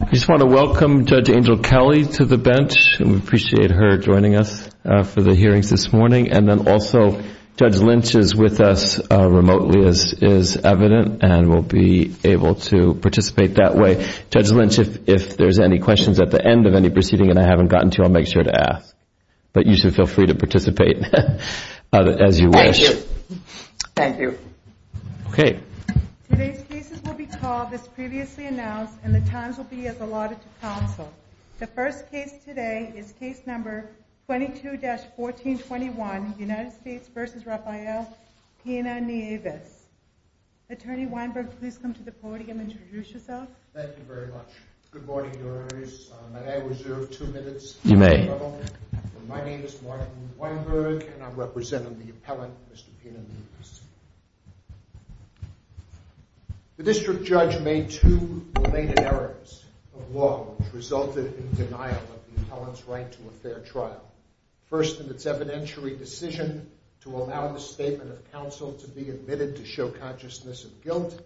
I just want to welcome Judge Angel Kelly to the bench. We appreciate her joining us for the hearings this morning. And then also, Judge Lynch is with us remotely, as is evident, and will be able to participate that way. Judge Lynch, if there's any questions at the end of any proceeding, and I haven't gotten to, I'll make sure to ask. But you should feel free to participate as you wish. Thank you. Today's cases will be called, as previously announced, and the times will be as allotted to counsel. The first case today is case number 22-1421, United States v. Raphael Pina-Nieves. Attorney Weinberg, please come to the podium and introduce yourself. Thank you very much. Good morning, Your Honors. May I reserve two minutes? You may. My name is Martin Weinberg, and I'm representing the appellant, Mr. Pina-Nieves. The district judge made two related errors of law which resulted in denial of the appellant's right to a fair trial. First, in its evidentiary decision to allow the statement of counsel to be admitted to show consciousness of guilt,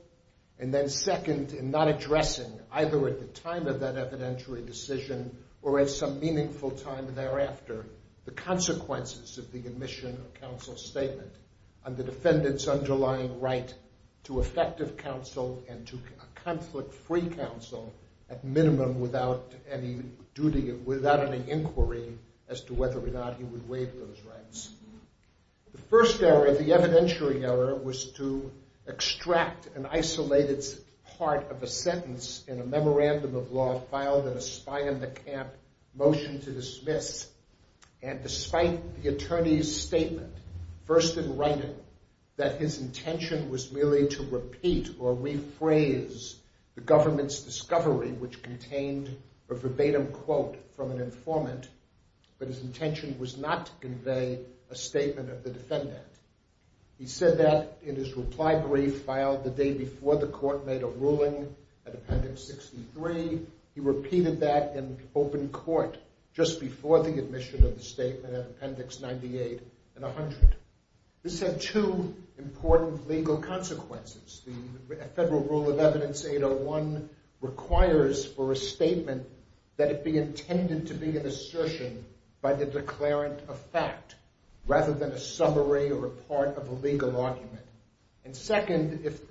and then second, in not addressing either at the time of that evidentiary decision or at some meaningful time thereafter the consequences of the admission of counsel's statement on the defendant's underlying right to effective counsel and to a conflict-free counsel, at minimum without any inquiry as to whether or not he would waive those rights. The first error, the evidentiary error, was to extract an isolated part of a sentence in a memorandum of law filed in a spy-in-the-camp motion to dismiss, and despite the attorney's statement, first in writing, that his intention was merely to repeat or rephrase the government's discovery, which contained a verbatim quote from an informant, but his intention was not to convey a statement of the defendant. He said that in his reply brief filed the day before the court made a ruling at Appendix 63. He repeated that in open court just before the admission of the statement at Appendix 98 and 100. This had two important legal consequences. The Federal Rule of Evidence 801 requires for a statement that it be intended to be an assertion by the declarant of fact rather than a summary or a part of a legal argument. And second, if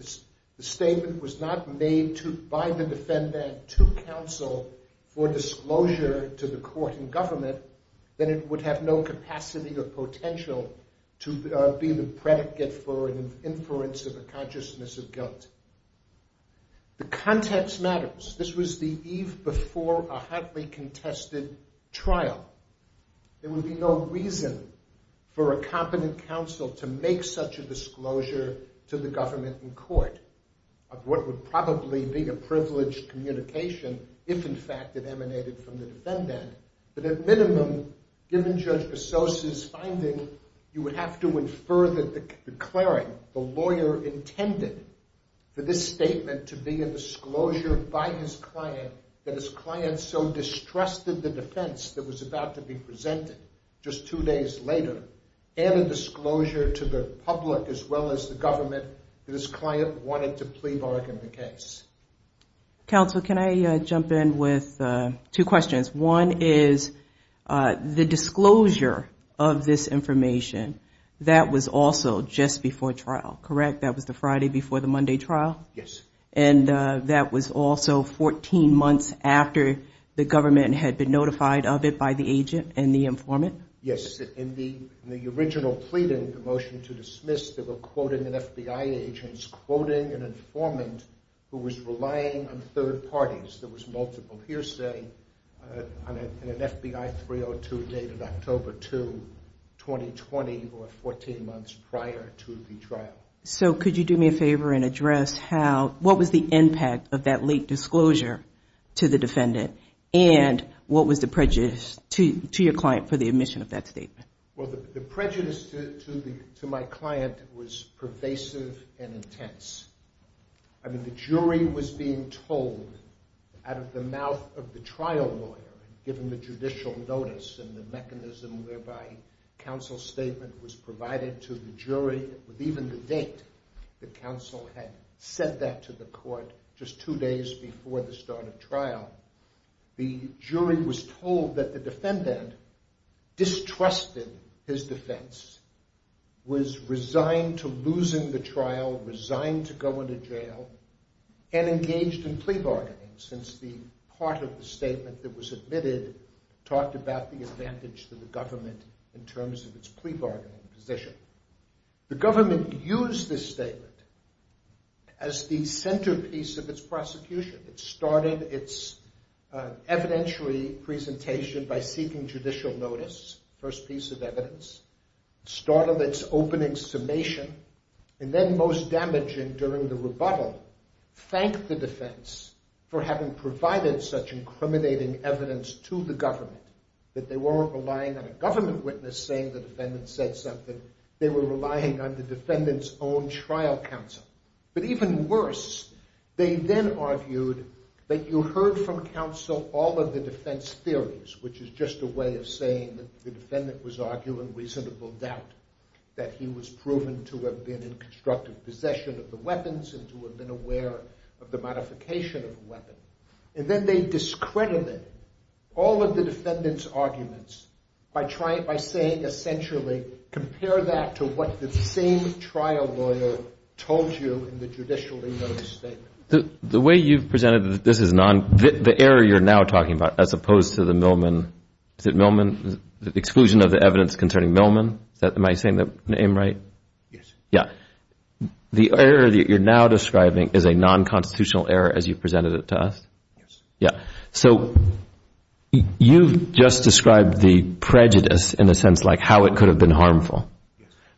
the statement was not made by the defendant to counsel for disclosure to the court and government, then it would have no capacity or potential to be the predicate for an inference of a consciousness of guilt. The context matters. This was the eve before a hotly contested trial. There would be no reason for a competent counsel to make such a disclosure to the government in court of what would probably be a privileged communication if, in fact, it emanated from the defendant. But at minimum, given Judge Pesos's finding, you would have to infer that the declarant, the lawyer, intended for this statement to be a disclosure by his client that his client so distrusted the defense that was about to be presented just two days later and a disclosure to the public as well as the government that his client wanted to plea bargain the case. Counsel, can I jump in with two questions? One is the disclosure of this information, that was also just before trial, correct? That was the Friday before the Monday trial? Yes. And that was also 14 months after the government had been notified of it by the agent and the informant? Yes. In the original pleading, the motion to dismiss, they were quoting an FBI agent, quoting an informant who was relying on third parties. There was multiple hearsay on an FBI 302 dated October 2, 2020, or 14 months prior to the trial. So could you do me a favor and address what was the impact of that late disclosure to the defendant and what was the prejudice to your client for the admission of that statement? Well, the prejudice to my client was pervasive and intense. I mean, the jury was being told out of the mouth of the trial lawyer, given the judicial notice and the mechanism whereby counsel's statement was provided to the jury with even the date that counsel had said that to the court, just two days before the start of trial. The jury was told that the defendant distrusted his defense, was resigned to losing the trial, resigned to go into jail, and engaged in plea bargaining since the part of the statement that was admitted talked about the advantage to the government in terms of its plea bargaining position. The government used this statement as the centerpiece of its prosecution. It started its evidentiary presentation by seeking judicial notice, first piece of evidence, started its opening summation, and then most damaging during the rebuttal, thanked the defense for having provided such incriminating evidence to the government that they weren't relying on a government witness saying the defendant said something. They were relying on the defendant's own trial counsel. But even worse, they then argued that you heard from counsel all of the defense theories, which is just a way of saying that the defendant was arguing reasonable doubt, that he was proven to have been in constructive possession of the weapons and to have been aware of the modification of the weapon. And then they discredited all of the defendant's arguments by saying, essentially, compare that to what the same trial lawyer told you in the judicial notice statement. The way you've presented this is non—the error you're now talking about, as opposed to the Millman— is it Millman? The exclusion of the evidence concerning Millman? Am I saying the name right? Yes. Yeah. The error that you're now describing is a non-constitutional error as you presented it to us? Yes. Yeah. So you've just described the prejudice in the sense like how it could have been harmful.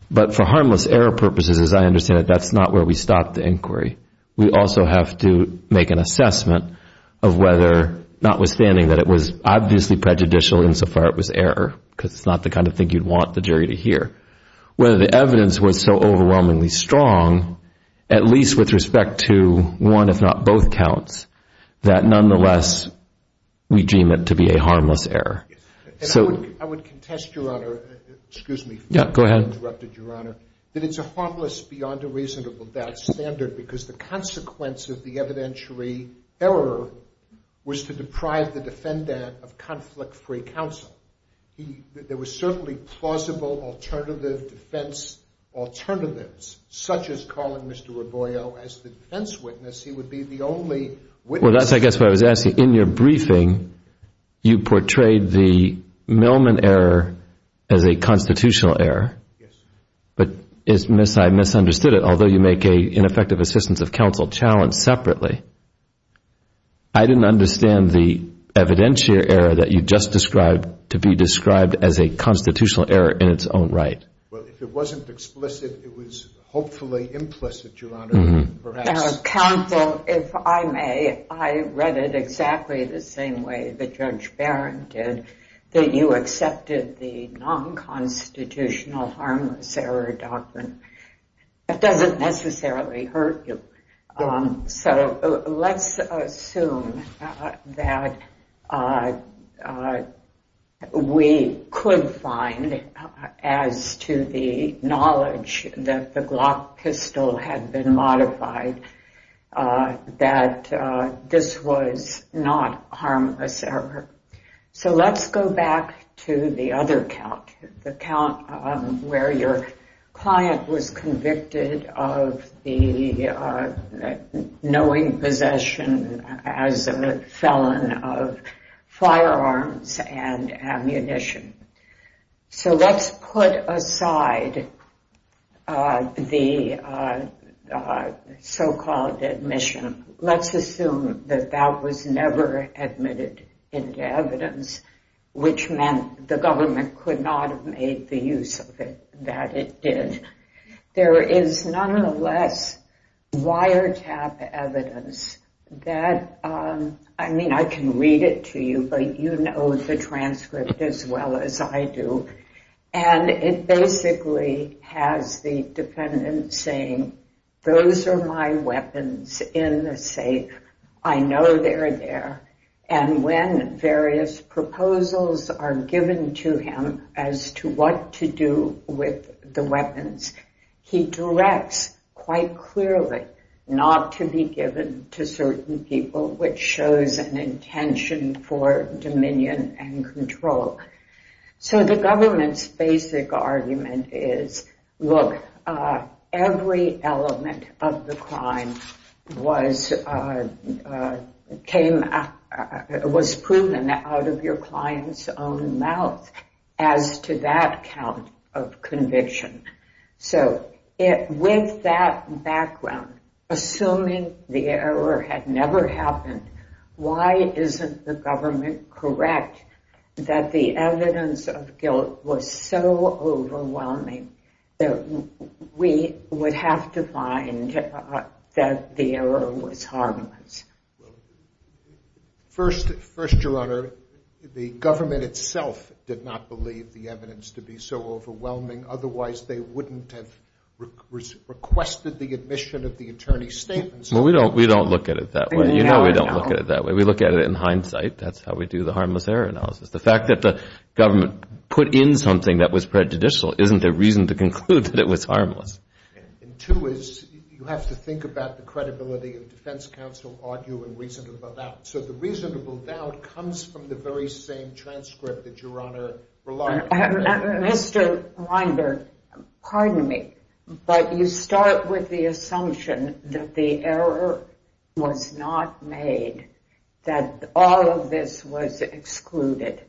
But for harmless error purposes, as I understand it, that's not where we stop the inquiry. We also have to make an assessment of whether, notwithstanding that it was obviously prejudicial insofar it was error, because it's not the kind of thing you'd want the jury to hear, whether the evidence was so overwhelmingly strong, at least with respect to one if not both counts, that nonetheless we deem it to be a harmless error. I would contest, Your Honor—excuse me for having interrupted, Your Honor— that it's a harmless beyond a reasonable doubt standard because the consequence of the evidentiary error was to deprive the defendant of conflict-free counsel. There were certainly plausible alternative defense alternatives, such as calling Mr. Raboio as the defense witness. He would be the only witness— Well, that's I guess what I was asking. In your briefing, you portrayed the Millman error as a constitutional error. Yes. But I misunderstood it. Although you make an ineffective assistance of counsel challenge separately, I didn't understand the evidentiary error that you just described to be described as a constitutional error in its own right. Well, if it wasn't explicit, it was hopefully implicit, Your Honor, perhaps. Counsel, if I may, I read it exactly the same way that Judge Barron did, that you accepted the nonconstitutional harmless error doctrine. That doesn't necessarily hurt you. So let's assume that we could find, as to the knowledge that the Glock pistol had been modified, that this was not harmless error. So let's go back to the other count, the count where your client was convicted of the knowing possession as a felon of firearms and ammunition. So let's put aside the so-called admission. Let's assume that that was never admitted into evidence, which meant the government could not have made the use of it, that it did. There is nonetheless wiretap evidence that, I mean, I can read it to you, but you know the transcript as well as I do. And it basically has the defendant saying, those are my weapons in the safe. I know they're there. And when various proposals are given to him as to what to do with the weapons, he directs quite clearly not to be given to certain people, which shows an intention for dominion and control. So the government's basic argument is, look, every element of the crime was proven out of your client's own mouth as to that count of conviction. So with that background, assuming the error had never happened, why isn't the government correct that the evidence of guilt was so overwhelming that we would have to find that the error was harmless? First, Your Honor, the government itself did not believe the evidence to be so overwhelming. Otherwise, they wouldn't have requested the admission of the attorney's statements. Well, we don't look at it that way. You know we don't look at it that way. We look at it in hindsight. That's how we do the harmless error analysis. The fact that the government put in something that was prejudicial isn't a reason to conclude that it was harmless. And two is you have to think about the credibility of defense counsel arguing reasonable doubt. So the reasonable doubt comes from the very same transcript that Your Honor relied on. Mr. Rinder, pardon me, but you start with the assumption that the error was not made, that all of this was excluded,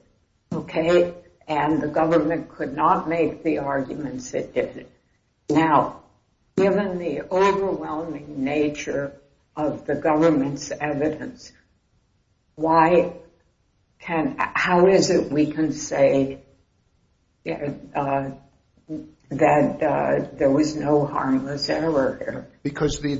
okay, and the government could not make the arguments it did. Now, given the overwhelming nature of the government's evidence, how is it we can say that there was no harmless error here? Because the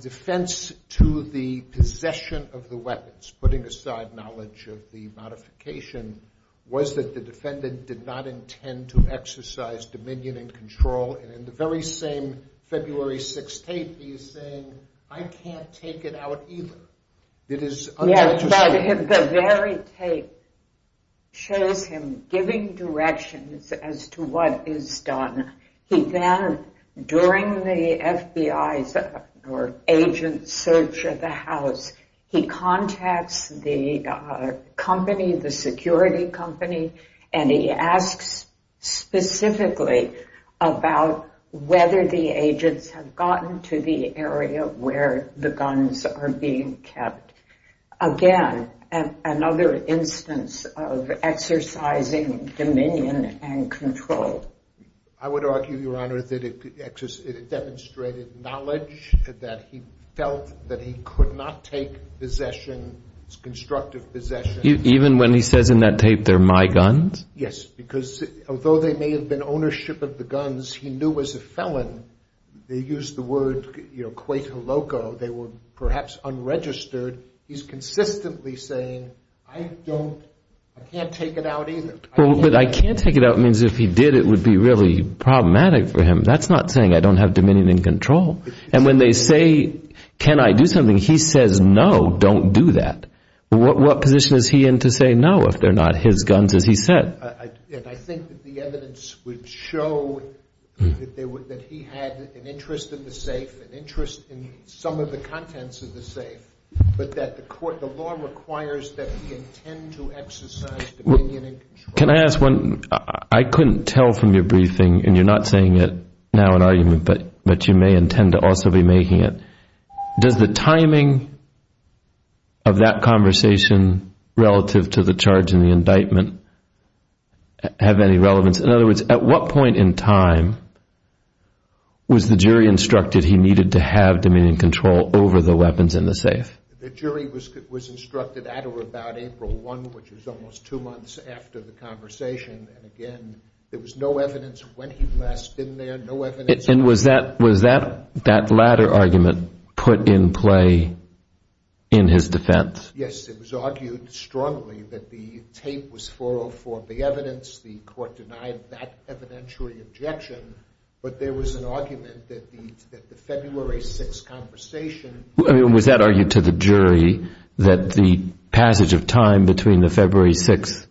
defense to the possession of the weapons, putting aside knowledge of the modification, was that the defendant did not intend to exercise dominion and control. And in the very same February 6th tape, he is saying, I can't take it out either. It is unlegitimate. Yes, but the very tape shows him giving directions as to what is done. He then, during the FBI's agent search of the house, he contacts the company, the security company, and he asks specifically about whether the agents have gotten to the area where the guns are being kept. Again, another instance of exercising dominion and control. I would argue, Your Honor, that it demonstrated knowledge, that he felt that he could not take possession, constructive possession. Even when he says in that tape, they're my guns? Yes, because, although they may have been ownership of the guns, he knew as a felon, they used the word, you know, Quaker loco. They were perhaps unregistered. He's consistently saying, I don't, I can't take it out either. Well, but I can't take it out means if he did, it would be really problematic for him. That's not saying I don't have dominion and control. And when they say, can I do something? He says, no, don't do that. What position is he in to say no if they're not his guns, as he said? And I think that the evidence would show that he had an interest in the safe, an interest in some of the contents of the safe, but that the court, the law requires that he intend to exercise dominion and control. Can I ask one? I couldn't tell from your briefing, and you're not saying it now in argument, but you may intend to also be making it. Does the timing of that conversation relative to the charge in the indictment have any relevance? In other words, at what point in time was the jury instructed he needed to have dominion and control over the weapons in the safe? The jury was instructed at or about April 1, which was almost two months after the conversation. And again, there was no evidence when he last been there, no evidence. And was that latter argument put in play in his defense? Yes, it was argued strongly that the tape was for or for the evidence. The court denied that evidentiary objection. But there was an argument that the February 6 conversation. I mean, was that argued to the jury that the passage of time between the February 6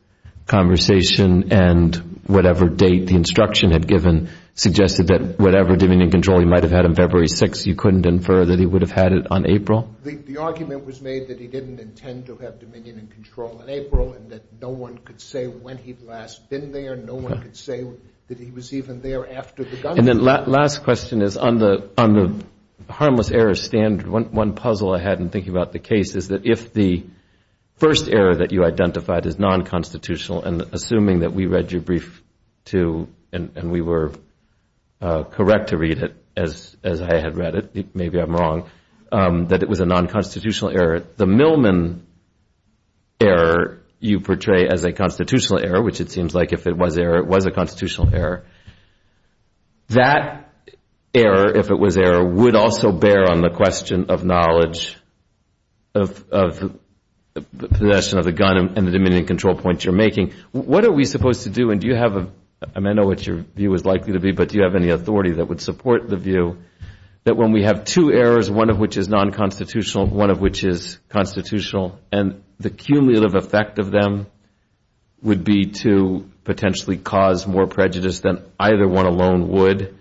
conversation and whatever date the instruction had given suggested that whatever dominion and control he might have had on February 6, you couldn't infer that he would have had it on April? The argument was made that he didn't intend to have dominion and control in April and that no one could say when he'd last been there. No one could say that he was even there after the gunshot. And then last question is on the harmless error standard, one puzzle I had in thinking about the case is that if the first error that you identified is non-constitutional, and assuming that we read your brief, too, and we were correct to read it as I had read it, maybe I'm wrong, that it was a non-constitutional error. The Millman error you portray as a constitutional error, which it seems like if it was error, it was a constitutional error. That error, if it was error, would also bear on the question of knowledge of the possession of the gun and the dominion and control points you're making. What are we supposed to do? And do you have a – I mean, I know what your view is likely to be, but do you have any authority that would support the view that when we have two errors, one of which is non-constitutional and one of which is constitutional, and the cumulative effect of them would be to potentially cause more prejudice than either one alone would,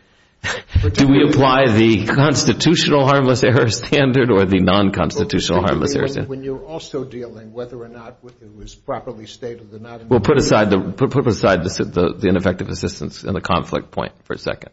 do we apply the constitutional harmless error standard or the non-constitutional harmless error standard? When you're also dealing whether or not it was properly stated or not. Well, put aside the ineffective assistance and the conflict point for a second.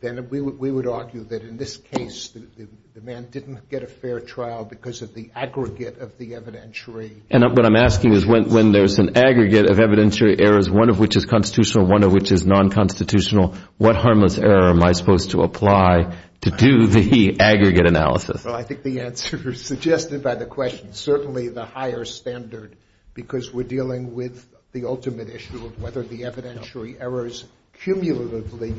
Then we would argue that in this case the man didn't get a fair trial because of the aggregate of the evidentiary. And what I'm asking is when there's an aggregate of evidentiary errors, one of which is constitutional, one of which is non-constitutional, what harmless error am I supposed to apply to do the aggregate analysis? Well, I think the answer suggested by the question, certainly the higher standard, because we're dealing with the ultimate issue of whether the evidentiary errors cumulatively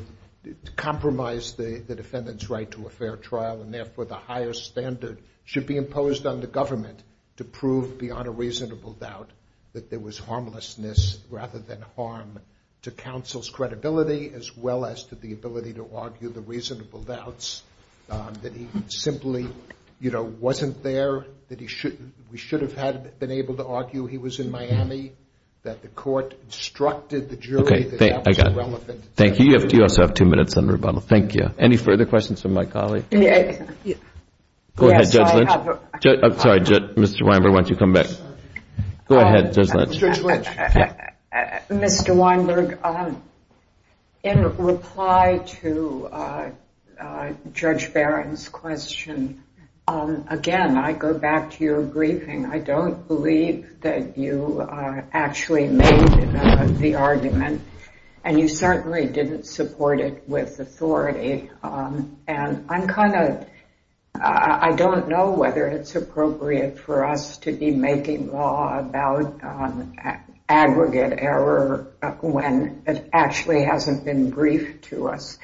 compromise the defendant's right to a fair trial, and therefore the higher standard should be imposed on the government to prove beyond a reasonable doubt that there was harmlessness rather than harm to counsel's credibility as well as to the ability to argue the reasonable doubts that he simply, you know, wasn't there, that we should have been able to argue he was in Miami, that the court instructed the jury that that was irrelevant. Okay, I got it. Thank you. You also have two minutes on rebuttal. Thank you. Any further questions from my colleague? Go ahead, Judge Lynch. I'm sorry, Mr. Weinberg, why don't you come back? Go ahead, Judge Lynch. Mr. Weinberg, in reply to Judge Barron's question, again, I go back to your briefing. I don't believe that you actually made the argument, and you certainly didn't support it with authority. And I'm kind of, I don't know whether it's appropriate for us to be making law about aggregate error when it actually hasn't been briefed to us.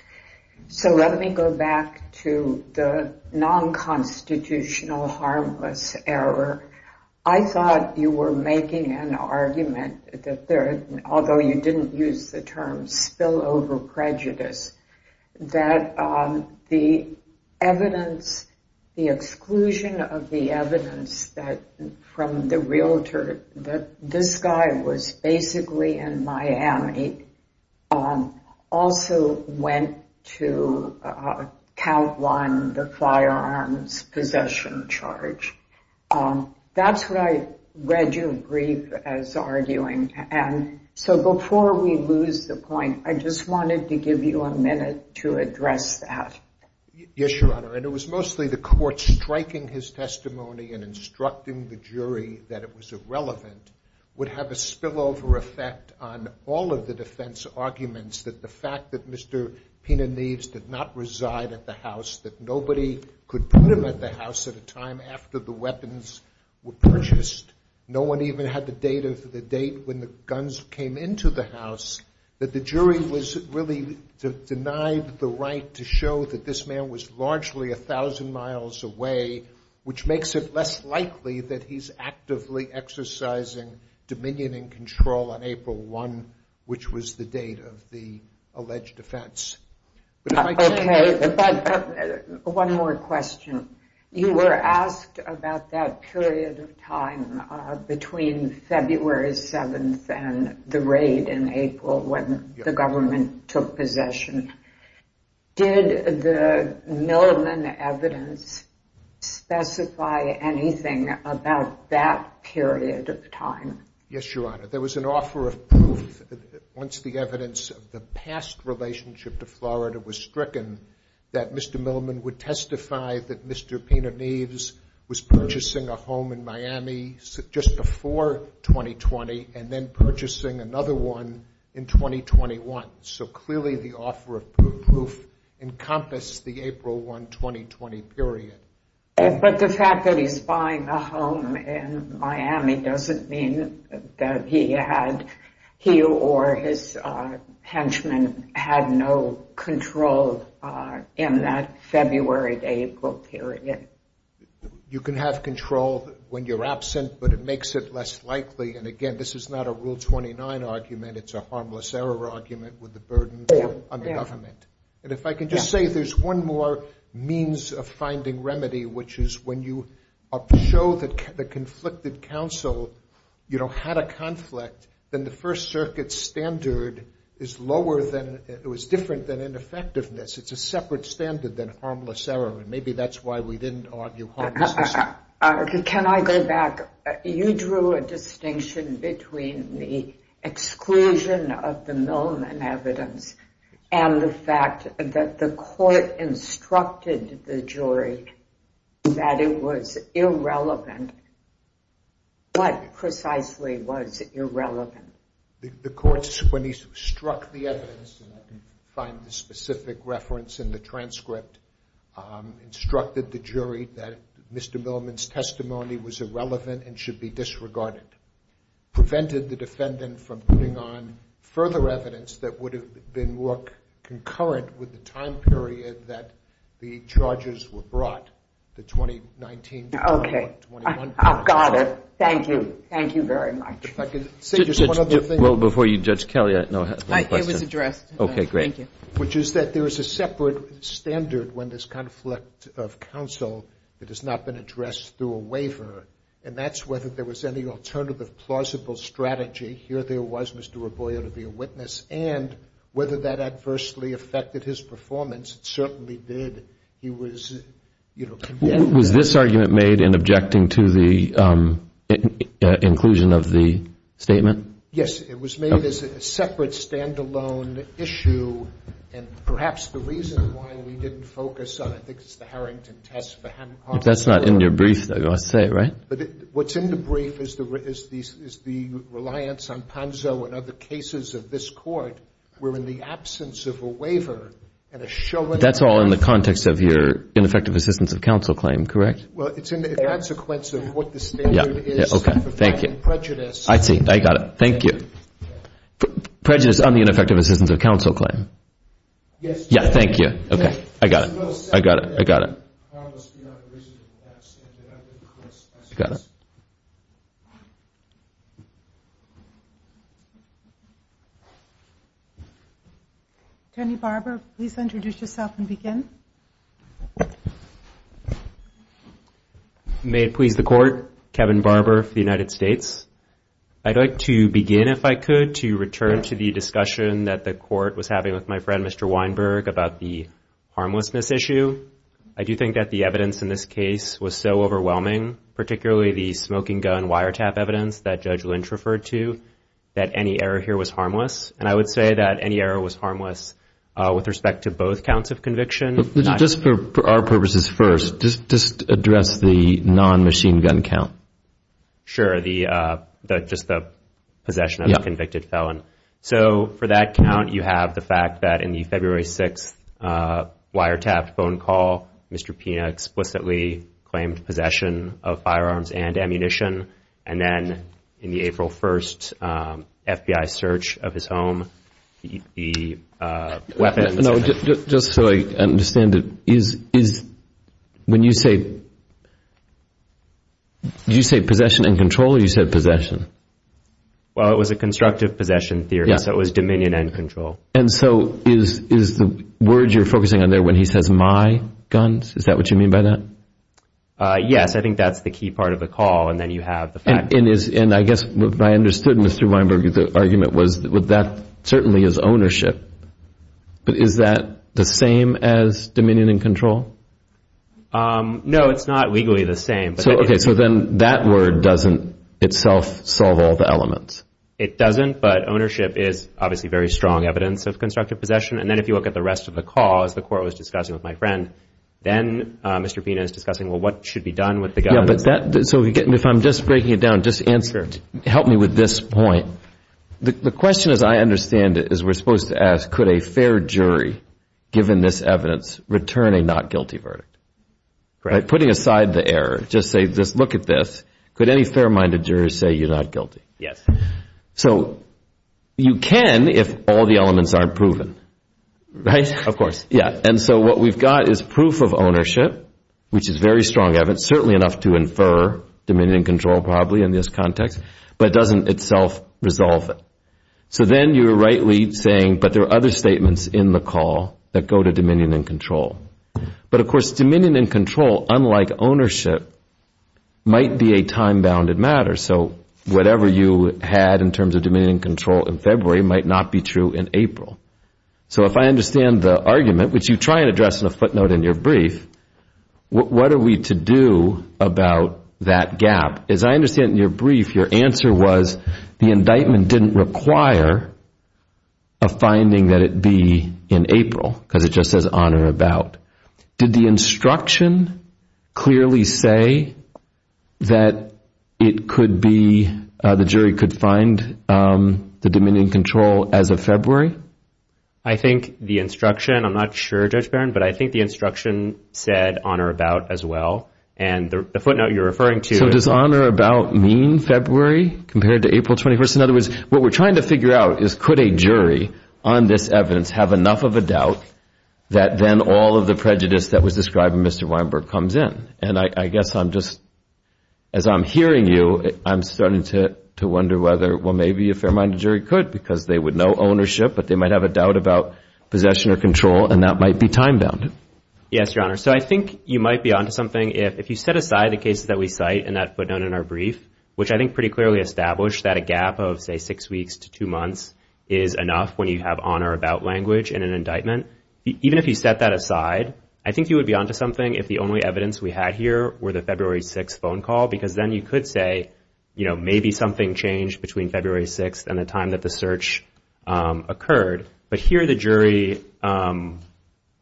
So let me go back to the non-constitutional harmless error. I thought you were making an argument that there, although you didn't use the term spillover prejudice, that the evidence, the exclusion of the evidence that from the realtor that this guy was basically in Miami also went to count one, the firearms possession charge. That's what I read you brief as arguing. And so before we lose the point, I just wanted to give you a minute to address that. Yes, Your Honor. And it was mostly the court striking his testimony and instructing the jury that it was irrelevant would have a spillover effect on all of the defense arguments that the fact that Mr. Pena Neves did not reside at the house, that nobody could put him at the house at a time after the weapons were purchased, no one even had the date of the date when the guns came into the house, that the jury was really denied the right to show that this man was largely a thousand miles away, which makes it less likely that he's actively exercising dominion and control on April 1, which was the date of the alleged offense. Okay, but one more question. You were asked about that period of time between February 7th and the raid in April when the government took possession. Did the Milliman evidence specify anything about that period of time? Yes, Your Honor. There was an offer of proof once the evidence of the past relationship to Florida was stricken that Mr. Milliman would testify that Mr. Pena Neves was purchasing a home in Miami just before 2020 and then purchasing another one in 2021. So clearly the offer of proof encompassed the April 1, 2020 period. But the fact that he's buying a home in Miami doesn't mean that he had, he or his henchmen had no control in that February to April period. You can have control when you're absent, but it makes it less likely, and again, this is not a Rule 29 argument. It's a harmless error argument with the burden on the government. And if I can just say there's one more means of finding remedy, which is when you show that the conflicted counsel, you know, had a conflict, then the First Circuit standard is lower than, it was different than ineffectiveness. It's a separate standard than harmless error, and maybe that's why we didn't argue harmless error. Can I go back? You drew a distinction between the exclusion of the Milliman evidence and the fact that the court instructed the jury that it was irrelevant. What precisely was irrelevant? The court, when he struck the evidence, and I can find the specific reference in the transcript, instructed the jury that Mr. Milliman's testimony was irrelevant and should be disregarded. Prevented the defendant from putting on further evidence that would have been more concurrent with the time period that the charges were brought, the 2019. Okay. I've got it. Thank you. Thank you very much. If I could say just one other thing. Well, before you judge Kelly, I know I have a question. It was addressed. Okay, great. Thank you. Which is that there is a separate standard when there's conflict of counsel that has not been addressed through a waiver, and that's whether there was any alternative plausible strategy. Here there was Mr. Raboio to be a witness, and whether that adversely affected his performance. It certainly did. He was, you know, condemned. Was this argument made in objecting to the inclusion of the statement? Yes. It was made as a separate, stand-alone issue, and perhaps the reason why we didn't focus on it, I think it's the Harrington test. If that's not in your brief, I'll say it, right? What's in the brief is the reliance on PANZO and other cases of this court were in the absence of a waiver and a showing of a waiver. That's all in the context of your ineffective assistance of counsel claim, correct? Well, it's in the consequence of what the standard is. Okay. Thank you. I see. I got it. Thank you. Prejudice on the ineffective assistance of counsel claim. Yes. Yeah, thank you. Okay. I got it. I got it. I got it. I got it. Attorney Barber, please introduce yourself and begin. May it please the court, Kevin Barber for the United States. I'd like to begin, if I could, to return to the discussion that the court was having with my friend, Mr. Weinberg, about the harmlessness issue. I do think that the evidence in this case was so overwhelming, particularly the smoking gun wiretap evidence that Judge Lynch referred to, that any error here was harmless, and I would say that any error was harmless with respect to both counts of conviction. Just for our purposes first, just address the non-machine gun count. Sure, just the possession of the convicted felon. So for that count, you have the fact that in the February 6th wiretap phone call, Mr. Pina explicitly claimed possession of firearms and ammunition, and then in the April 1st FBI search of his home, the weapon. No, just so I understand it, is when you say, did you say possession and control or you said possession? Well, it was a constructive possession theory, so it was dominion and control. And so is the word you're focusing on there when he says my guns, is that what you mean by that? Yes, I think that's the key part of the call, and then you have the fact. And I guess what I understood, Mr. Weinberg, the argument was that that certainly is ownership, but is that the same as dominion and control? No, it's not legally the same. Okay, so then that word doesn't itself solve all the elements. It doesn't, but ownership is obviously very strong evidence of constructive possession. And then if you look at the rest of the call, as the court was discussing with my friend, then Mr. Pina is discussing, well, what should be done with the guns? If I'm just breaking it down, just help me with this point. The question, as I understand it, is we're supposed to ask, could a fair jury, given this evidence, return a not guilty verdict? Putting aside the error, just look at this. Could any fair-minded jury say you're not guilty? Yes. So you can if all the elements aren't proven, right? Of course. And so what we've got is proof of ownership, which is very strong evidence, certainly enough to infer dominion and control probably in this context, but it doesn't itself resolve it. So then you're rightly saying, but there are other statements in the call that go to dominion and control. But, of course, dominion and control, unlike ownership, might be a time-bounded matter. So whatever you had in terms of dominion and control in February might not be true in April. So if I understand the argument, which you try and address in a footnote in your brief, what are we to do about that gap? As I understand it in your brief, your answer was the indictment didn't require a finding that it be in April because it just says on or about. Did the instruction clearly say that the jury could find the dominion and control as of February? I think the instruction, I'm not sure, Judge Barron, but I think the instruction said on or about as well. And the footnote you're referring to— So does on or about mean February compared to April 21st? In other words, what we're trying to figure out is could a jury on this evidence have enough of a doubt that then all of the prejudice that was described in Mr. Weinberg comes in? And I guess I'm just, as I'm hearing you, I'm starting to wonder whether, well, maybe a fair-minded jury could because they would know ownership, but they might have a doubt about possession or control, and that might be time-bound. Yes, Your Honor. So I think you might be on to something if you set aside the cases that we cite in that footnote in our brief, which I think pretty clearly established that a gap of, say, six weeks to two months is enough when you have on or about language in an indictment. Even if you set that aside, I think you would be on to something if the only evidence we had here were the February 6th phone call because then you could say, you know, But here the jury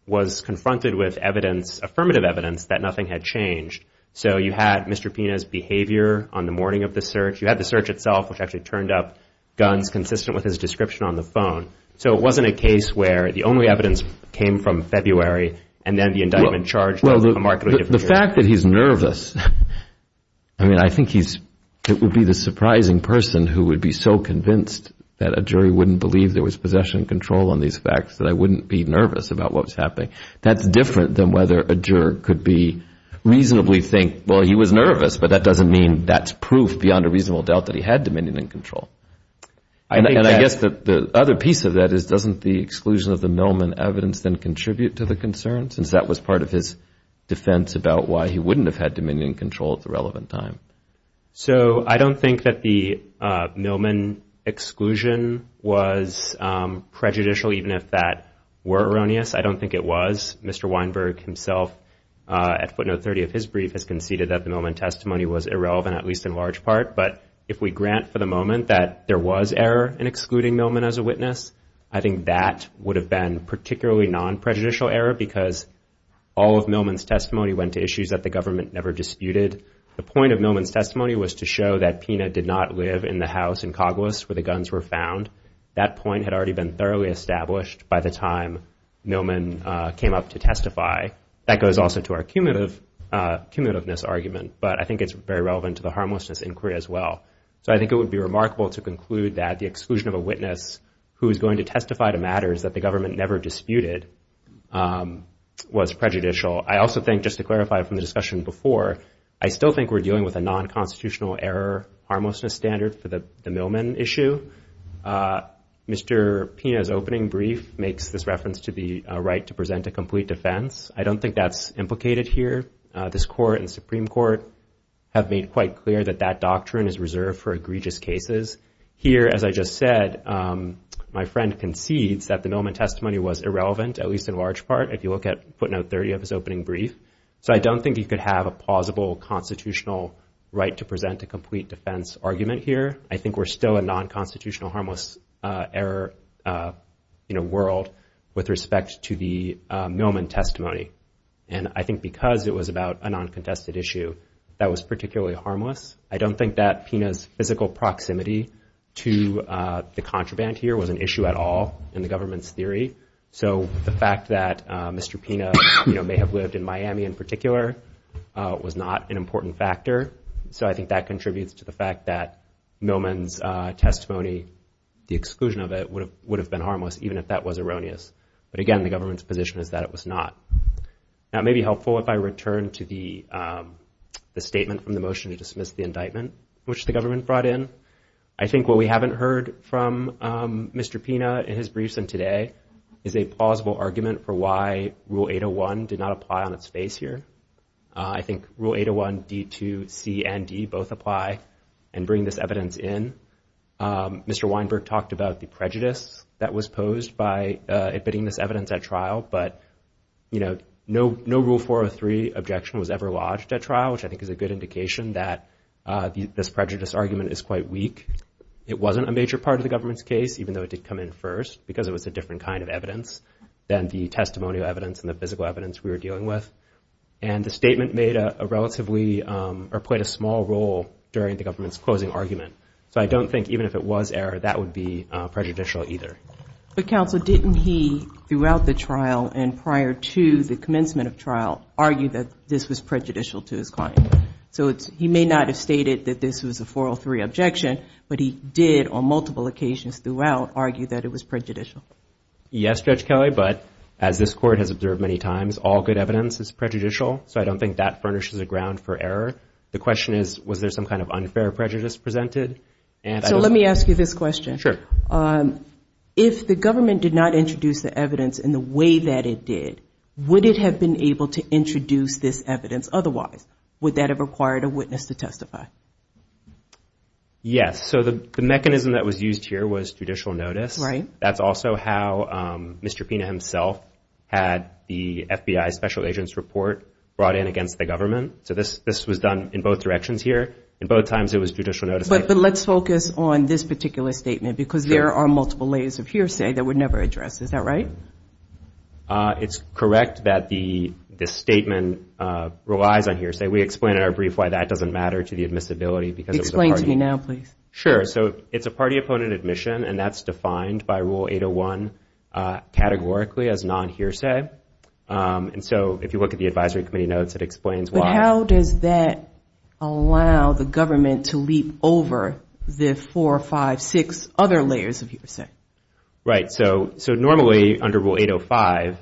was confronted with evidence, affirmative evidence, that nothing had changed. So you had Mr. Pina's behavior on the morning of the search. You had the search itself, which actually turned up guns consistent with his description on the phone. So it wasn't a case where the only evidence came from February, and then the indictment charged a markedly different jury. Well, the fact that he's nervous, I mean, I think it would be the surprising person who would be so convinced that a jury wouldn't believe there was possession and control on these facts that I wouldn't be nervous about what was happening. That's different than whether a juror could reasonably think, well, he was nervous, but that doesn't mean that's proof beyond a reasonable doubt that he had dominion and control. And I guess the other piece of that is doesn't the exclusion of the Millman evidence then contribute to the concern, since that was part of his defense about why he wouldn't have had dominion and control at the relevant time? So I don't think that the Millman exclusion was prejudicial, even if that were erroneous. I don't think it was. Mr. Weinberg himself, at footnote 30 of his brief, has conceded that the Millman testimony was irrelevant, at least in large part. But if we grant for the moment that there was error in excluding Millman as a witness, I think that would have been particularly non-prejudicial error because all of Millman's testimony went to issues that the government never disputed. The point of Millman's testimony was to show that Pina did not live in the house in Coglis where the guns were found. That point had already been thoroughly established by the time Millman came up to testify. That goes also to our cumulativeness argument, but I think it's very relevant to the harmlessness inquiry as well. So I think it would be remarkable to conclude that the exclusion of a witness who was going to testify to matters that the government never disputed was prejudicial. I also think, just to clarify from the discussion before, I still think we're dealing with a non-constitutional error harmlessness standard for the Millman issue. Mr. Pina's opening brief makes this reference to the right to present a complete defense. I don't think that's implicated here. This Court and the Supreme Court have made quite clear that that doctrine is reserved for egregious cases. Here, as I just said, my friend concedes that the Millman testimony was irrelevant, at least in large part. If you look at footnote 30 of his opening brief. So I don't think you could have a plausible constitutional right to present a complete defense argument here. I think we're still a non-constitutional harmless error world with respect to the Millman testimony. And I think because it was about a non-contested issue, that was particularly harmless. I don't think that Pina's physical proximity to the contraband here was an issue at all in the government's theory. So the fact that Mr. Pina may have lived in Miami in particular was not an important factor. So I think that contributes to the fact that Millman's testimony, the exclusion of it, would have been harmless, even if that was erroneous. But again, the government's position is that it was not. Now, it may be helpful if I return to the statement from the motion to dismiss the indictment, which the government brought in. I think what we haven't heard from Mr. Pina in his briefs and today is a plausible argument for why Rule 801 did not apply on its face here. I think Rule 801, D2, C, and D both apply and bring this evidence in. Mr. Weinberg talked about the prejudice that was posed by admitting this evidence at trial. But, you know, no Rule 403 objection was ever lodged at trial, which I think is a good indication that this prejudice argument is quite weak. It wasn't a major part of the government's case, even though it did come in first, because it was a different kind of evidence than the testimonial evidence and the physical evidence we were dealing with. And the statement made a relatively or played a small role during the government's closing argument. So I don't think even if it was error, that would be prejudicial either. But, counsel, didn't he throughout the trial and prior to the commencement of trial argue that this was prejudicial to his client? So he may not have stated that this was a 403 objection, but he did on multiple occasions throughout argue that it was prejudicial. Yes, Judge Kelly, but as this court has observed many times, all good evidence is prejudicial. So I don't think that furnishes a ground for error. The question is, was there some kind of unfair prejudice presented? So let me ask you this question. Sure. If the government did not introduce the evidence in the way that it did, would it have been able to introduce this evidence otherwise? Would that have required a witness to testify? Yes. So the mechanism that was used here was judicial notice. Right. That's also how Mr. Pena himself had the FBI special agent's report brought in against the government. So this was done in both directions here. In both times it was judicial notice. But let's focus on this particular statement because there are multiple layers of hearsay that were never addressed. Is that right? It's correct that the statement relies on hearsay. We explained in our brief why that doesn't matter to the admissibility because it was a party. Explain to me now, please. Sure. So it's a party-opponent admission, and that's defined by Rule 801 categorically as non-hearsay. And so if you look at the advisory committee notes, it explains why. But how does that allow the government to leap over the four, five, six other layers of hearsay? Right. So normally under Rule 805,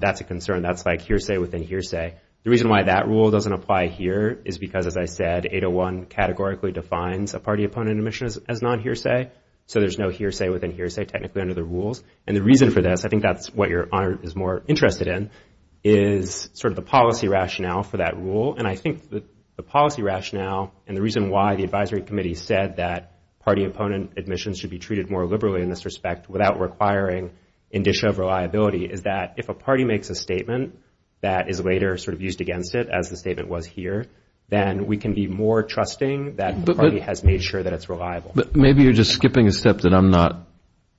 that's a concern. That's like hearsay within hearsay. The reason why that rule doesn't apply here is because, as I said, 801 categorically defines a party-opponent admission as non-hearsay. So there's no hearsay within hearsay technically under the rules. And the reason for this, I think that's what your Honor is more interested in, is sort of the policy rationale for that rule. And I think the policy rationale and the reason why the advisory committee said that party-opponent admissions should be treated more liberally in this respect without requiring indicia of reliability is that if a party makes a statement that is later sort of used against it, as the statement was here, then we can be more trusting that the party has made sure that it's reliable. But maybe you're just skipping a step that I'm not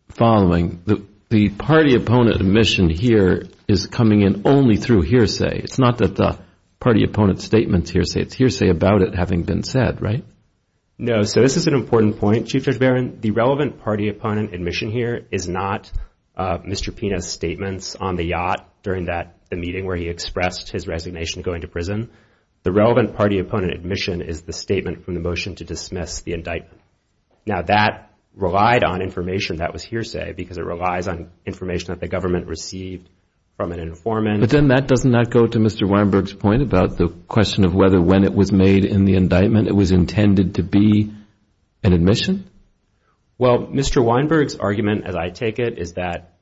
following. The party-opponent admission here is coming in only through hearsay. It's not that the party-opponent statement's hearsay. It's hearsay about it having been said, right? No. So this is an important point, Chief Judge Barron. The relevant party-opponent admission here is not Mr. Pina's statements on the yacht during that meeting where he expressed his resignation going to prison. The relevant party-opponent admission is the statement from the motion to dismiss the indictment. Now, that relied on information that was hearsay because it relies on information that the government received from an informant. But then that does not go to Mr. Weinberg's point about the question of whether when it was made in the indictment, it was intended to be an admission? Well, Mr. Weinberg's argument, as I take it, is that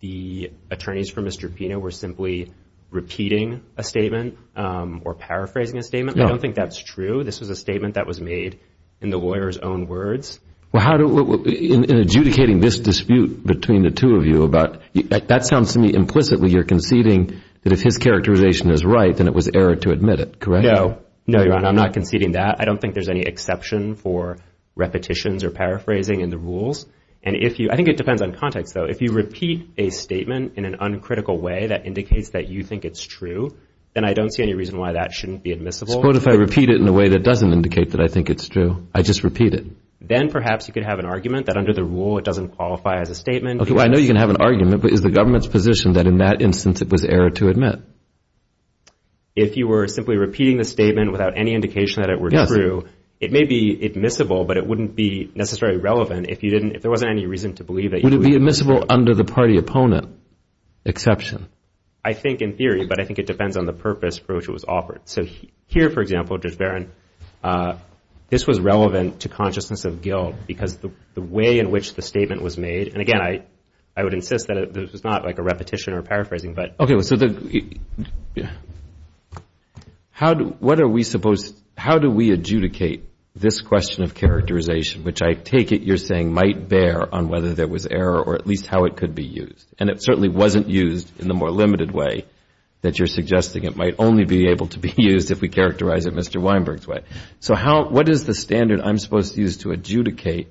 the attorneys for Mr. Pina were simply repeating a statement. Or paraphrasing a statement. I don't think that's true. This was a statement that was made in the lawyer's own words. In adjudicating this dispute between the two of you, that sounds to me implicitly you're conceding that if his characterization is right, then it was error to admit it, correct? No. No, Your Honor. I'm not conceding that. I don't think there's any exception for repetitions or paraphrasing in the rules. I think it depends on context, though. If you repeat a statement in an uncritical way that indicates that you think it's true, then I don't see any reason why that shouldn't be admissible. But if I repeat it in a way that doesn't indicate that I think it's true, I just repeat it. Then perhaps you could have an argument that under the rule it doesn't qualify as a statement. I know you can have an argument, but is the government's position that in that instance it was error to admit? If you were simply repeating the statement without any indication that it were true, it may be admissible, but it wouldn't be necessarily relevant if there wasn't any reason to believe that you would admit it. Would it be admissible under the party opponent exception? I think in theory, but I think it depends on the purpose for which it was offered. So here, for example, Judge Barron, this was relevant to consciousness of guilt because the way in which the statement was made, and again, I would insist that this was not like a repetition or paraphrasing. How do we adjudicate this question of characterization, which I take it you're saying might bear on whether there was error or at least how it could be used? And it certainly wasn't used in the more limited way that you're suggesting it might only be able to be used if we characterize it Mr. Weinberg's way. So what is the standard I'm supposed to use to adjudicate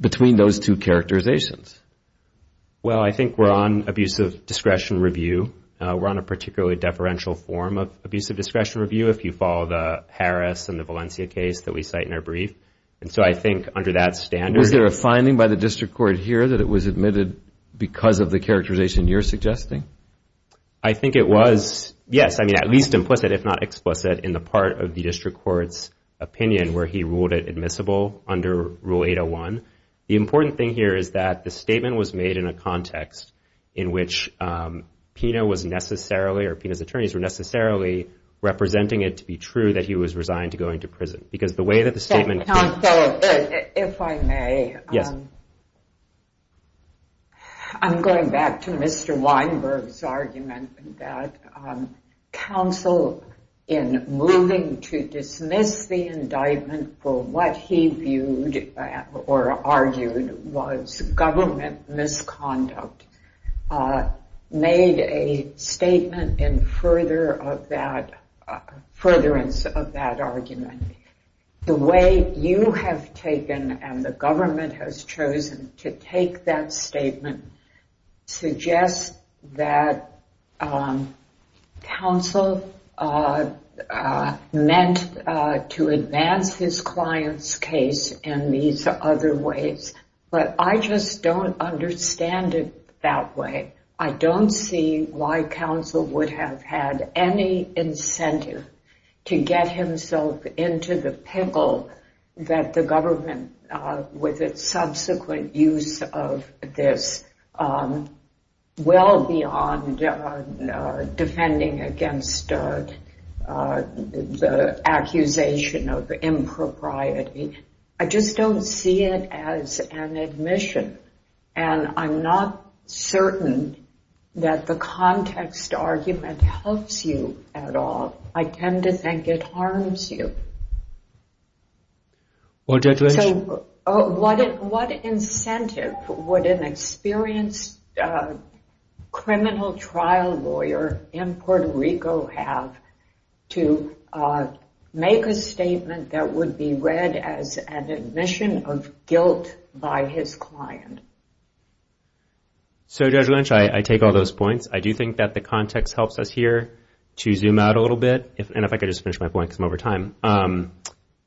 between those two characterizations? Well, I think we're on abusive discretion review. We're on a particularly deferential form of abusive discretion review if you follow the Harris and the Valencia case that we cite in our brief. And so I think under that standard... Was there a finding by the district court here that it was admitted because of the characterization you're suggesting? I think it was, yes, I mean, at least implicit if not explicit in the part of the district court's opinion where he ruled it admissible under Rule 801. The important thing here is that the statement was made in a context in which PINA was necessarily or PINA's attorneys were necessarily representing it to be true that he was resigned to going to prison. Because the way that the statement... Counsel, if I may. Yes. I'm going back to Mr. Weinberg's argument that counsel in moving to dismiss the indictment for what he viewed or argued was government misconduct, made a statement in furtherance of that argument. The way you have taken and the government has chosen to take that statement suggests that counsel meant to advance his client's case in these other ways. But I just don't understand it that way. I don't see why counsel would have had any incentive to get himself into the pickle that the government, with its subsequent use of this, well beyond defending against the accusation of impropriety. I just don't see it as an admission. And I'm not certain that the context argument helps you at all. I tend to think it harms you. Judge Lynch? What incentive would an experienced criminal trial lawyer in Puerto Rico have to make a statement that would be read as an admission of guilt by his client? Judge Lynch, I take all those points. I do think that the context helps us here to zoom out a little bit.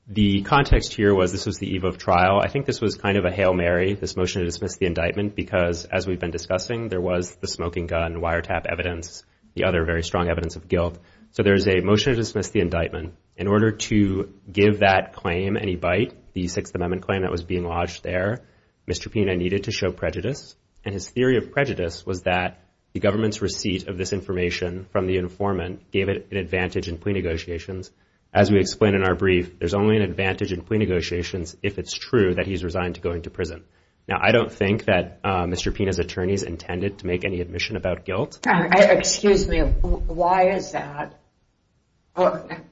The context here was this was the eve of trial. I think this was kind of a hail Mary, this motion to dismiss the indictment, because as we've been discussing, there was the smoking gun wiretap evidence, the other very strong evidence of guilt. So there is a motion to dismiss the indictment. In order to give that claim any bite, the Sixth Amendment claim that was being lodged there, Mr. Pina needed to show prejudice. And his theory of prejudice was that the government's receipt of this information from the informant gave it an advantage in plea negotiations. As we explained in our brief, there's only an advantage in plea negotiations if it's true that he's resigned to going to prison. Now, I don't think that Mr. Pina's attorneys intended to make any admission about guilt. Excuse me, why is that?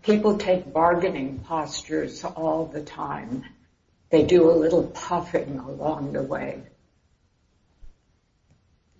People take bargaining postures all the time. They do a little puffing along the way.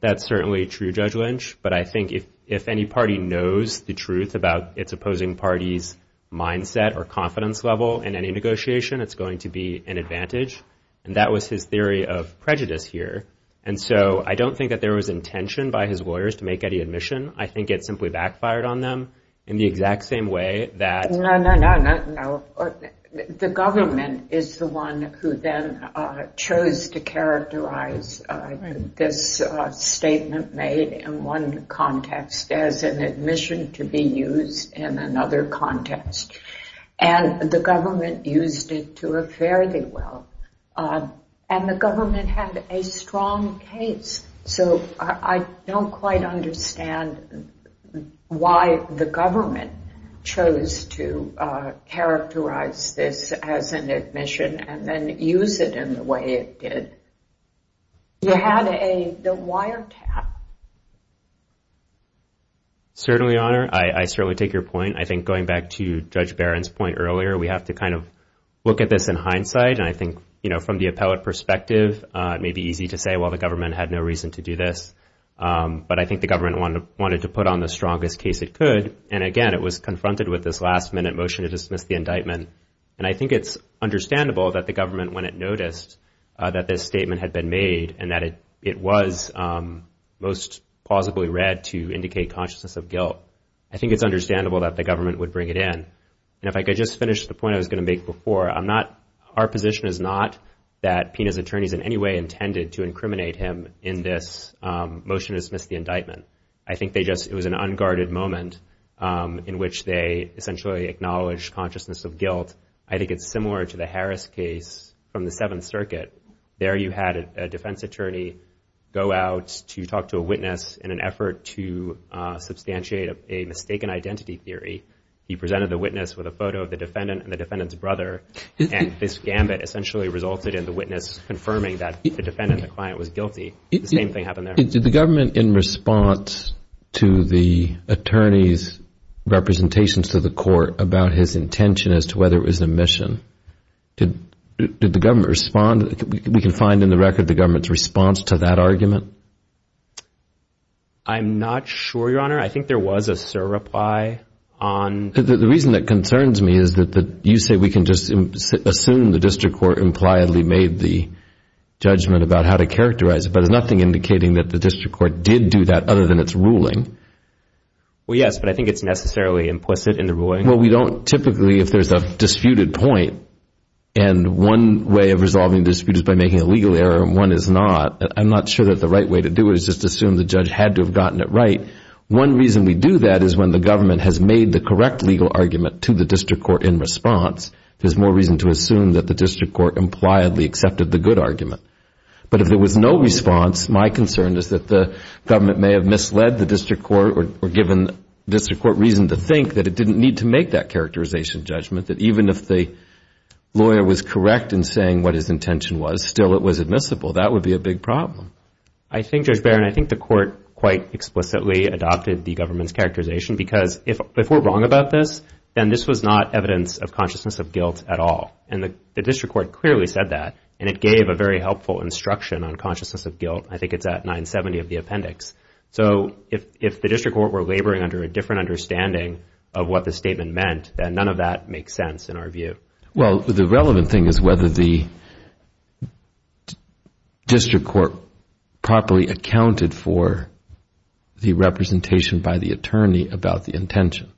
That's certainly true, Judge Lynch. But I think if any party knows the truth about its opposing party's mindset or confidence level in any negotiation, it's going to be an advantage. And that was his theory of prejudice here. And so I don't think that there was intention by his lawyers to make any admission. I think it simply backfired on them in the exact same way that... No, no, no, no, no. The government is the one who then chose to characterize this statement made in one context as an admission to be used in another context. And the government used it to a fairly well. And the government had a strong case. So I don't quite understand why the government chose to characterize this as an admission and then use it in the way it did. You had a wiretap. Certainly, Your Honor, I certainly take your point. I think going back to Judge Barron's point earlier, we have to kind of look at this in hindsight. And I think, you know, from the appellate perspective, it may be easy to say, well, the government had no reason to do this. But I think the government wanted to put on the strongest case it could. And again, it was confronted with this last minute motion to dismiss the indictment. And I think it's understandable that the government, when it noticed that this statement had been made, and that it was most plausibly read to indicate consciousness of guilt, I think it's understandable that the government would bring it in. And if I could just finish the point I was going to make before, I'm not... Our position is not that PINA's attorneys in any way intended to incriminate him in this motion to dismiss the indictment. I think they just... It was an unguarded moment in which they essentially acknowledged consciousness of guilt. I think it's similar to the Harris case from the Seventh Circuit. There you had a defense attorney go out to talk to a witness in an effort to substantiate a mistaken identity theory. He presented the witness with a photo of the defendant and the defendant's brother. And this gambit essentially resulted in the witness confirming that the defendant, the client, was guilty. The same thing happened there. Did the government, in response to the attorney's representations to the court about his intention as to whether it was an omission, did the government respond? We can find in the record the government's response to that argument. I'm not sure, Your Honor. I think there was a surreply on... The reason that concerns me is that you say we can just assume the district court impliedly made the judgment about how to characterize it, but there's nothing indicating that the district court did do that other than its ruling. Well, yes, but I think it's necessarily implicit in the ruling. Well, we don't... Typically, if there's a disputed point and one way of resolving dispute is by making a legal error and one is not, I'm not sure that the right way to do it is just assume the judge had to have gotten it right. One reason we do that is when the government has made the correct legal argument to the district court in response, there's more reason to assume that the district court impliedly accepted the good argument. But if there was no response, my concern is that the government may have misled the district court or given the district court reason to think that it didn't need to make that characterization judgment, that even if the lawyer was correct in saying what his intention was, still it was admissible. That would be a big problem. I think, Judge Barron, I think the court quite explicitly adopted the government's characterization, because if we're wrong about this, then this was not evidence of consciousness of guilt at all. And the district court clearly said that, and it gave a very helpful instruction on consciousness of guilt. I think it's at 970 of the appendix. So if the district court were laboring under a different understanding of what the statement meant, then none of that makes sense in our view. Well, the relevant thing is whether the district court properly accounted for the representation by the attorney about the intention.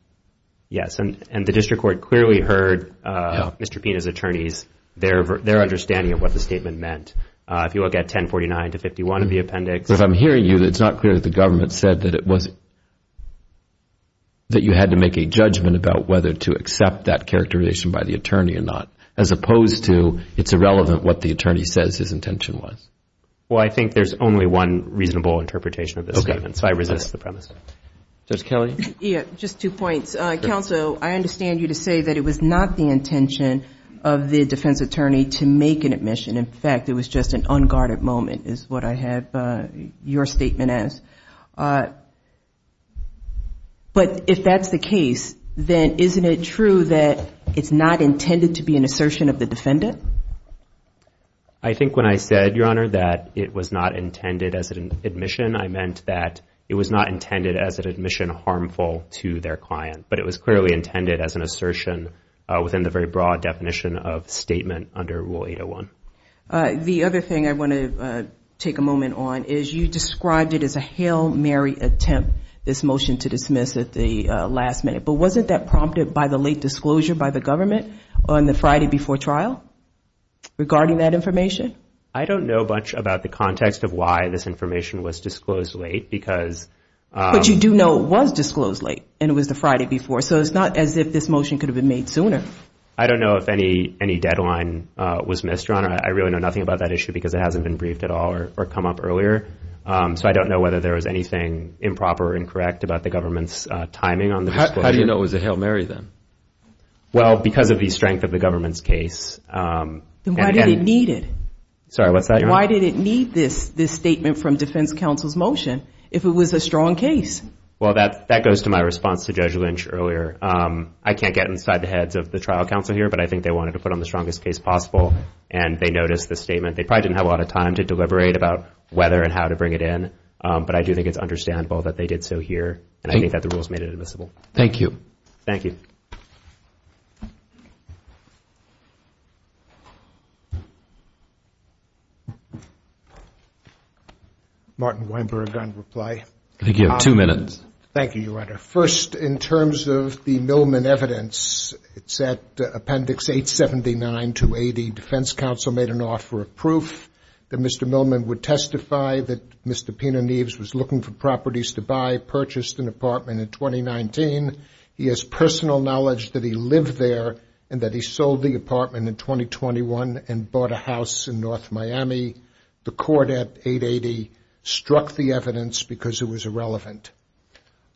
Yes, and the district court clearly heard Mr. Pina's attorneys, their understanding of what the statement meant. If you look at 1049 to 51 of the appendix. If I'm hearing you, it's not clear that the government said that you had to make a judgment about whether to accept that characterization by the attorney or not, as opposed to it's irrelevant what the attorney says his intention was. Well, I think there's only one reasonable interpretation of this statement, so I resist the premise. Judge Kelly? Just two points. Counsel, I understand you to say that it was not the intention of the defense attorney to make an admission. In fact, it was just an unguarded moment, is what I have your statement as. But if that's the case, then isn't it true that it's not intended to be an assertion of the defendant? I think when I said, Your Honor, that it was not intended as an admission, I meant that it was not intended as an admission harmful to their client. But it was clearly intended as an assertion within the very broad definition of statement under Rule 801. The other thing I want to take a moment on is you described it as a hail Mary attempt, this motion to dismiss at the last minute. But wasn't that prompted by the late disclosure by the government on the Friday before trial regarding that information? I don't know much about the context of why this information was disclosed late because But you do know it was disclosed late and it was the Friday before, so it's not as if this motion could have been made sooner. I don't know if any deadline was missed, Your Honor. I really know nothing about that issue because it hasn't been briefed at all or come up earlier. So I don't know whether there was anything improper or incorrect about the government's timing on the disclosure. How do you know it was a hail Mary then? Well, because of the strength of the government's case. Why did it need this statement from defense counsel's motion if it was a strong case? Well, that goes to my response to Judge Lynch earlier. I can't get inside the heads of the trial counsel here, but I think they wanted to put on the strongest case possible. And they noticed the statement. They probably didn't have a lot of time to deliberate about whether and how to bring it in. But I do think it's understandable that they did so here. And I think that the rules made it admissible. Thank you. Martin Weinberg on reply. Thank you, Your Honor. First, in terms of the Millman evidence, it's at Appendix 879-280. Defense counsel made an offer of proof that Mr. Millman would testify that Mr. Pena Neves was looking for properties to buy, purchased an apartment in 2019. He has personal knowledge that he lived there and that he sold the apartment in 2021 and bought a house in North Miami. The court at 880 struck the evidence because it was irrelevant.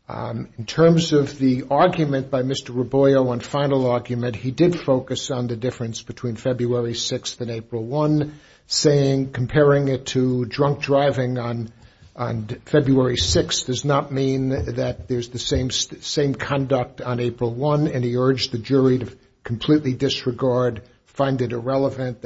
In terms of the argument by Mr. Raboio on final argument, he did focus on the difference between February 6th and April 1, saying comparing it to drunk driving on February 6th does not mean that there's the same conduct on April 1. And he urged the jury to completely disregard, find it irrelevant.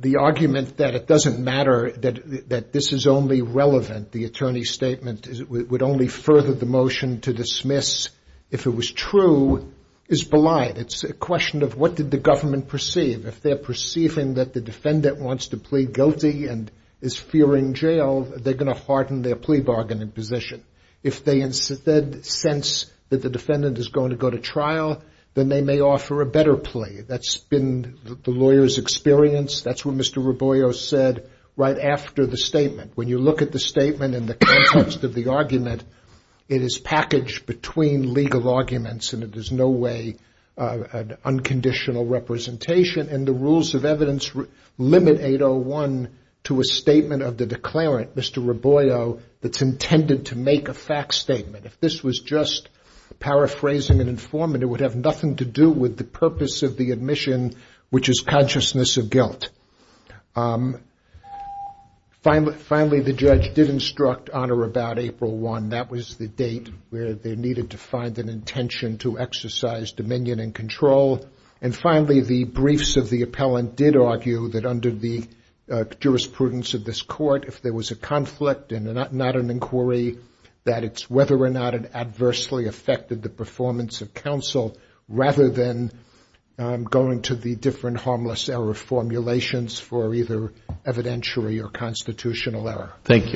The argument that it doesn't matter, that this is only relevant, the attorney's statement would only further the motion to dismiss if it was true, is belied. It's a question of what did the government perceive. If they're perceiving that the defendant wants to plead guilty and is fearing jail, they're going to harden their plea bargain in position. If they instead sense that the defendant is going to go to trial, then they may offer a better plea. That's been the lawyer's experience. That's what Mr. Raboio said right after the statement. When you look at the statement in the context of the argument, it is packaged between legal arguments and it is no way an unconditional representation. And the rules of evidence limit 801 to a statement of the declarant, Mr. Raboio, that's intended to make the argument. If this was just paraphrasing an informant, it would have nothing to do with the purpose of the admission, which is consciousness of guilt. Finally, the judge did instruct honor about April 1. That was the date where they needed to find an intention to exercise dominion and control. And finally, the briefs of the appellant did argue that under the jurisprudence of this court, if there was a conflict and not an inquiry, that it's whether or not it adversely affected the performance of counsel rather than going to the different harmless error formulations for either evidentiary or constitutional error. Thank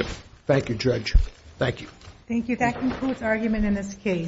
you.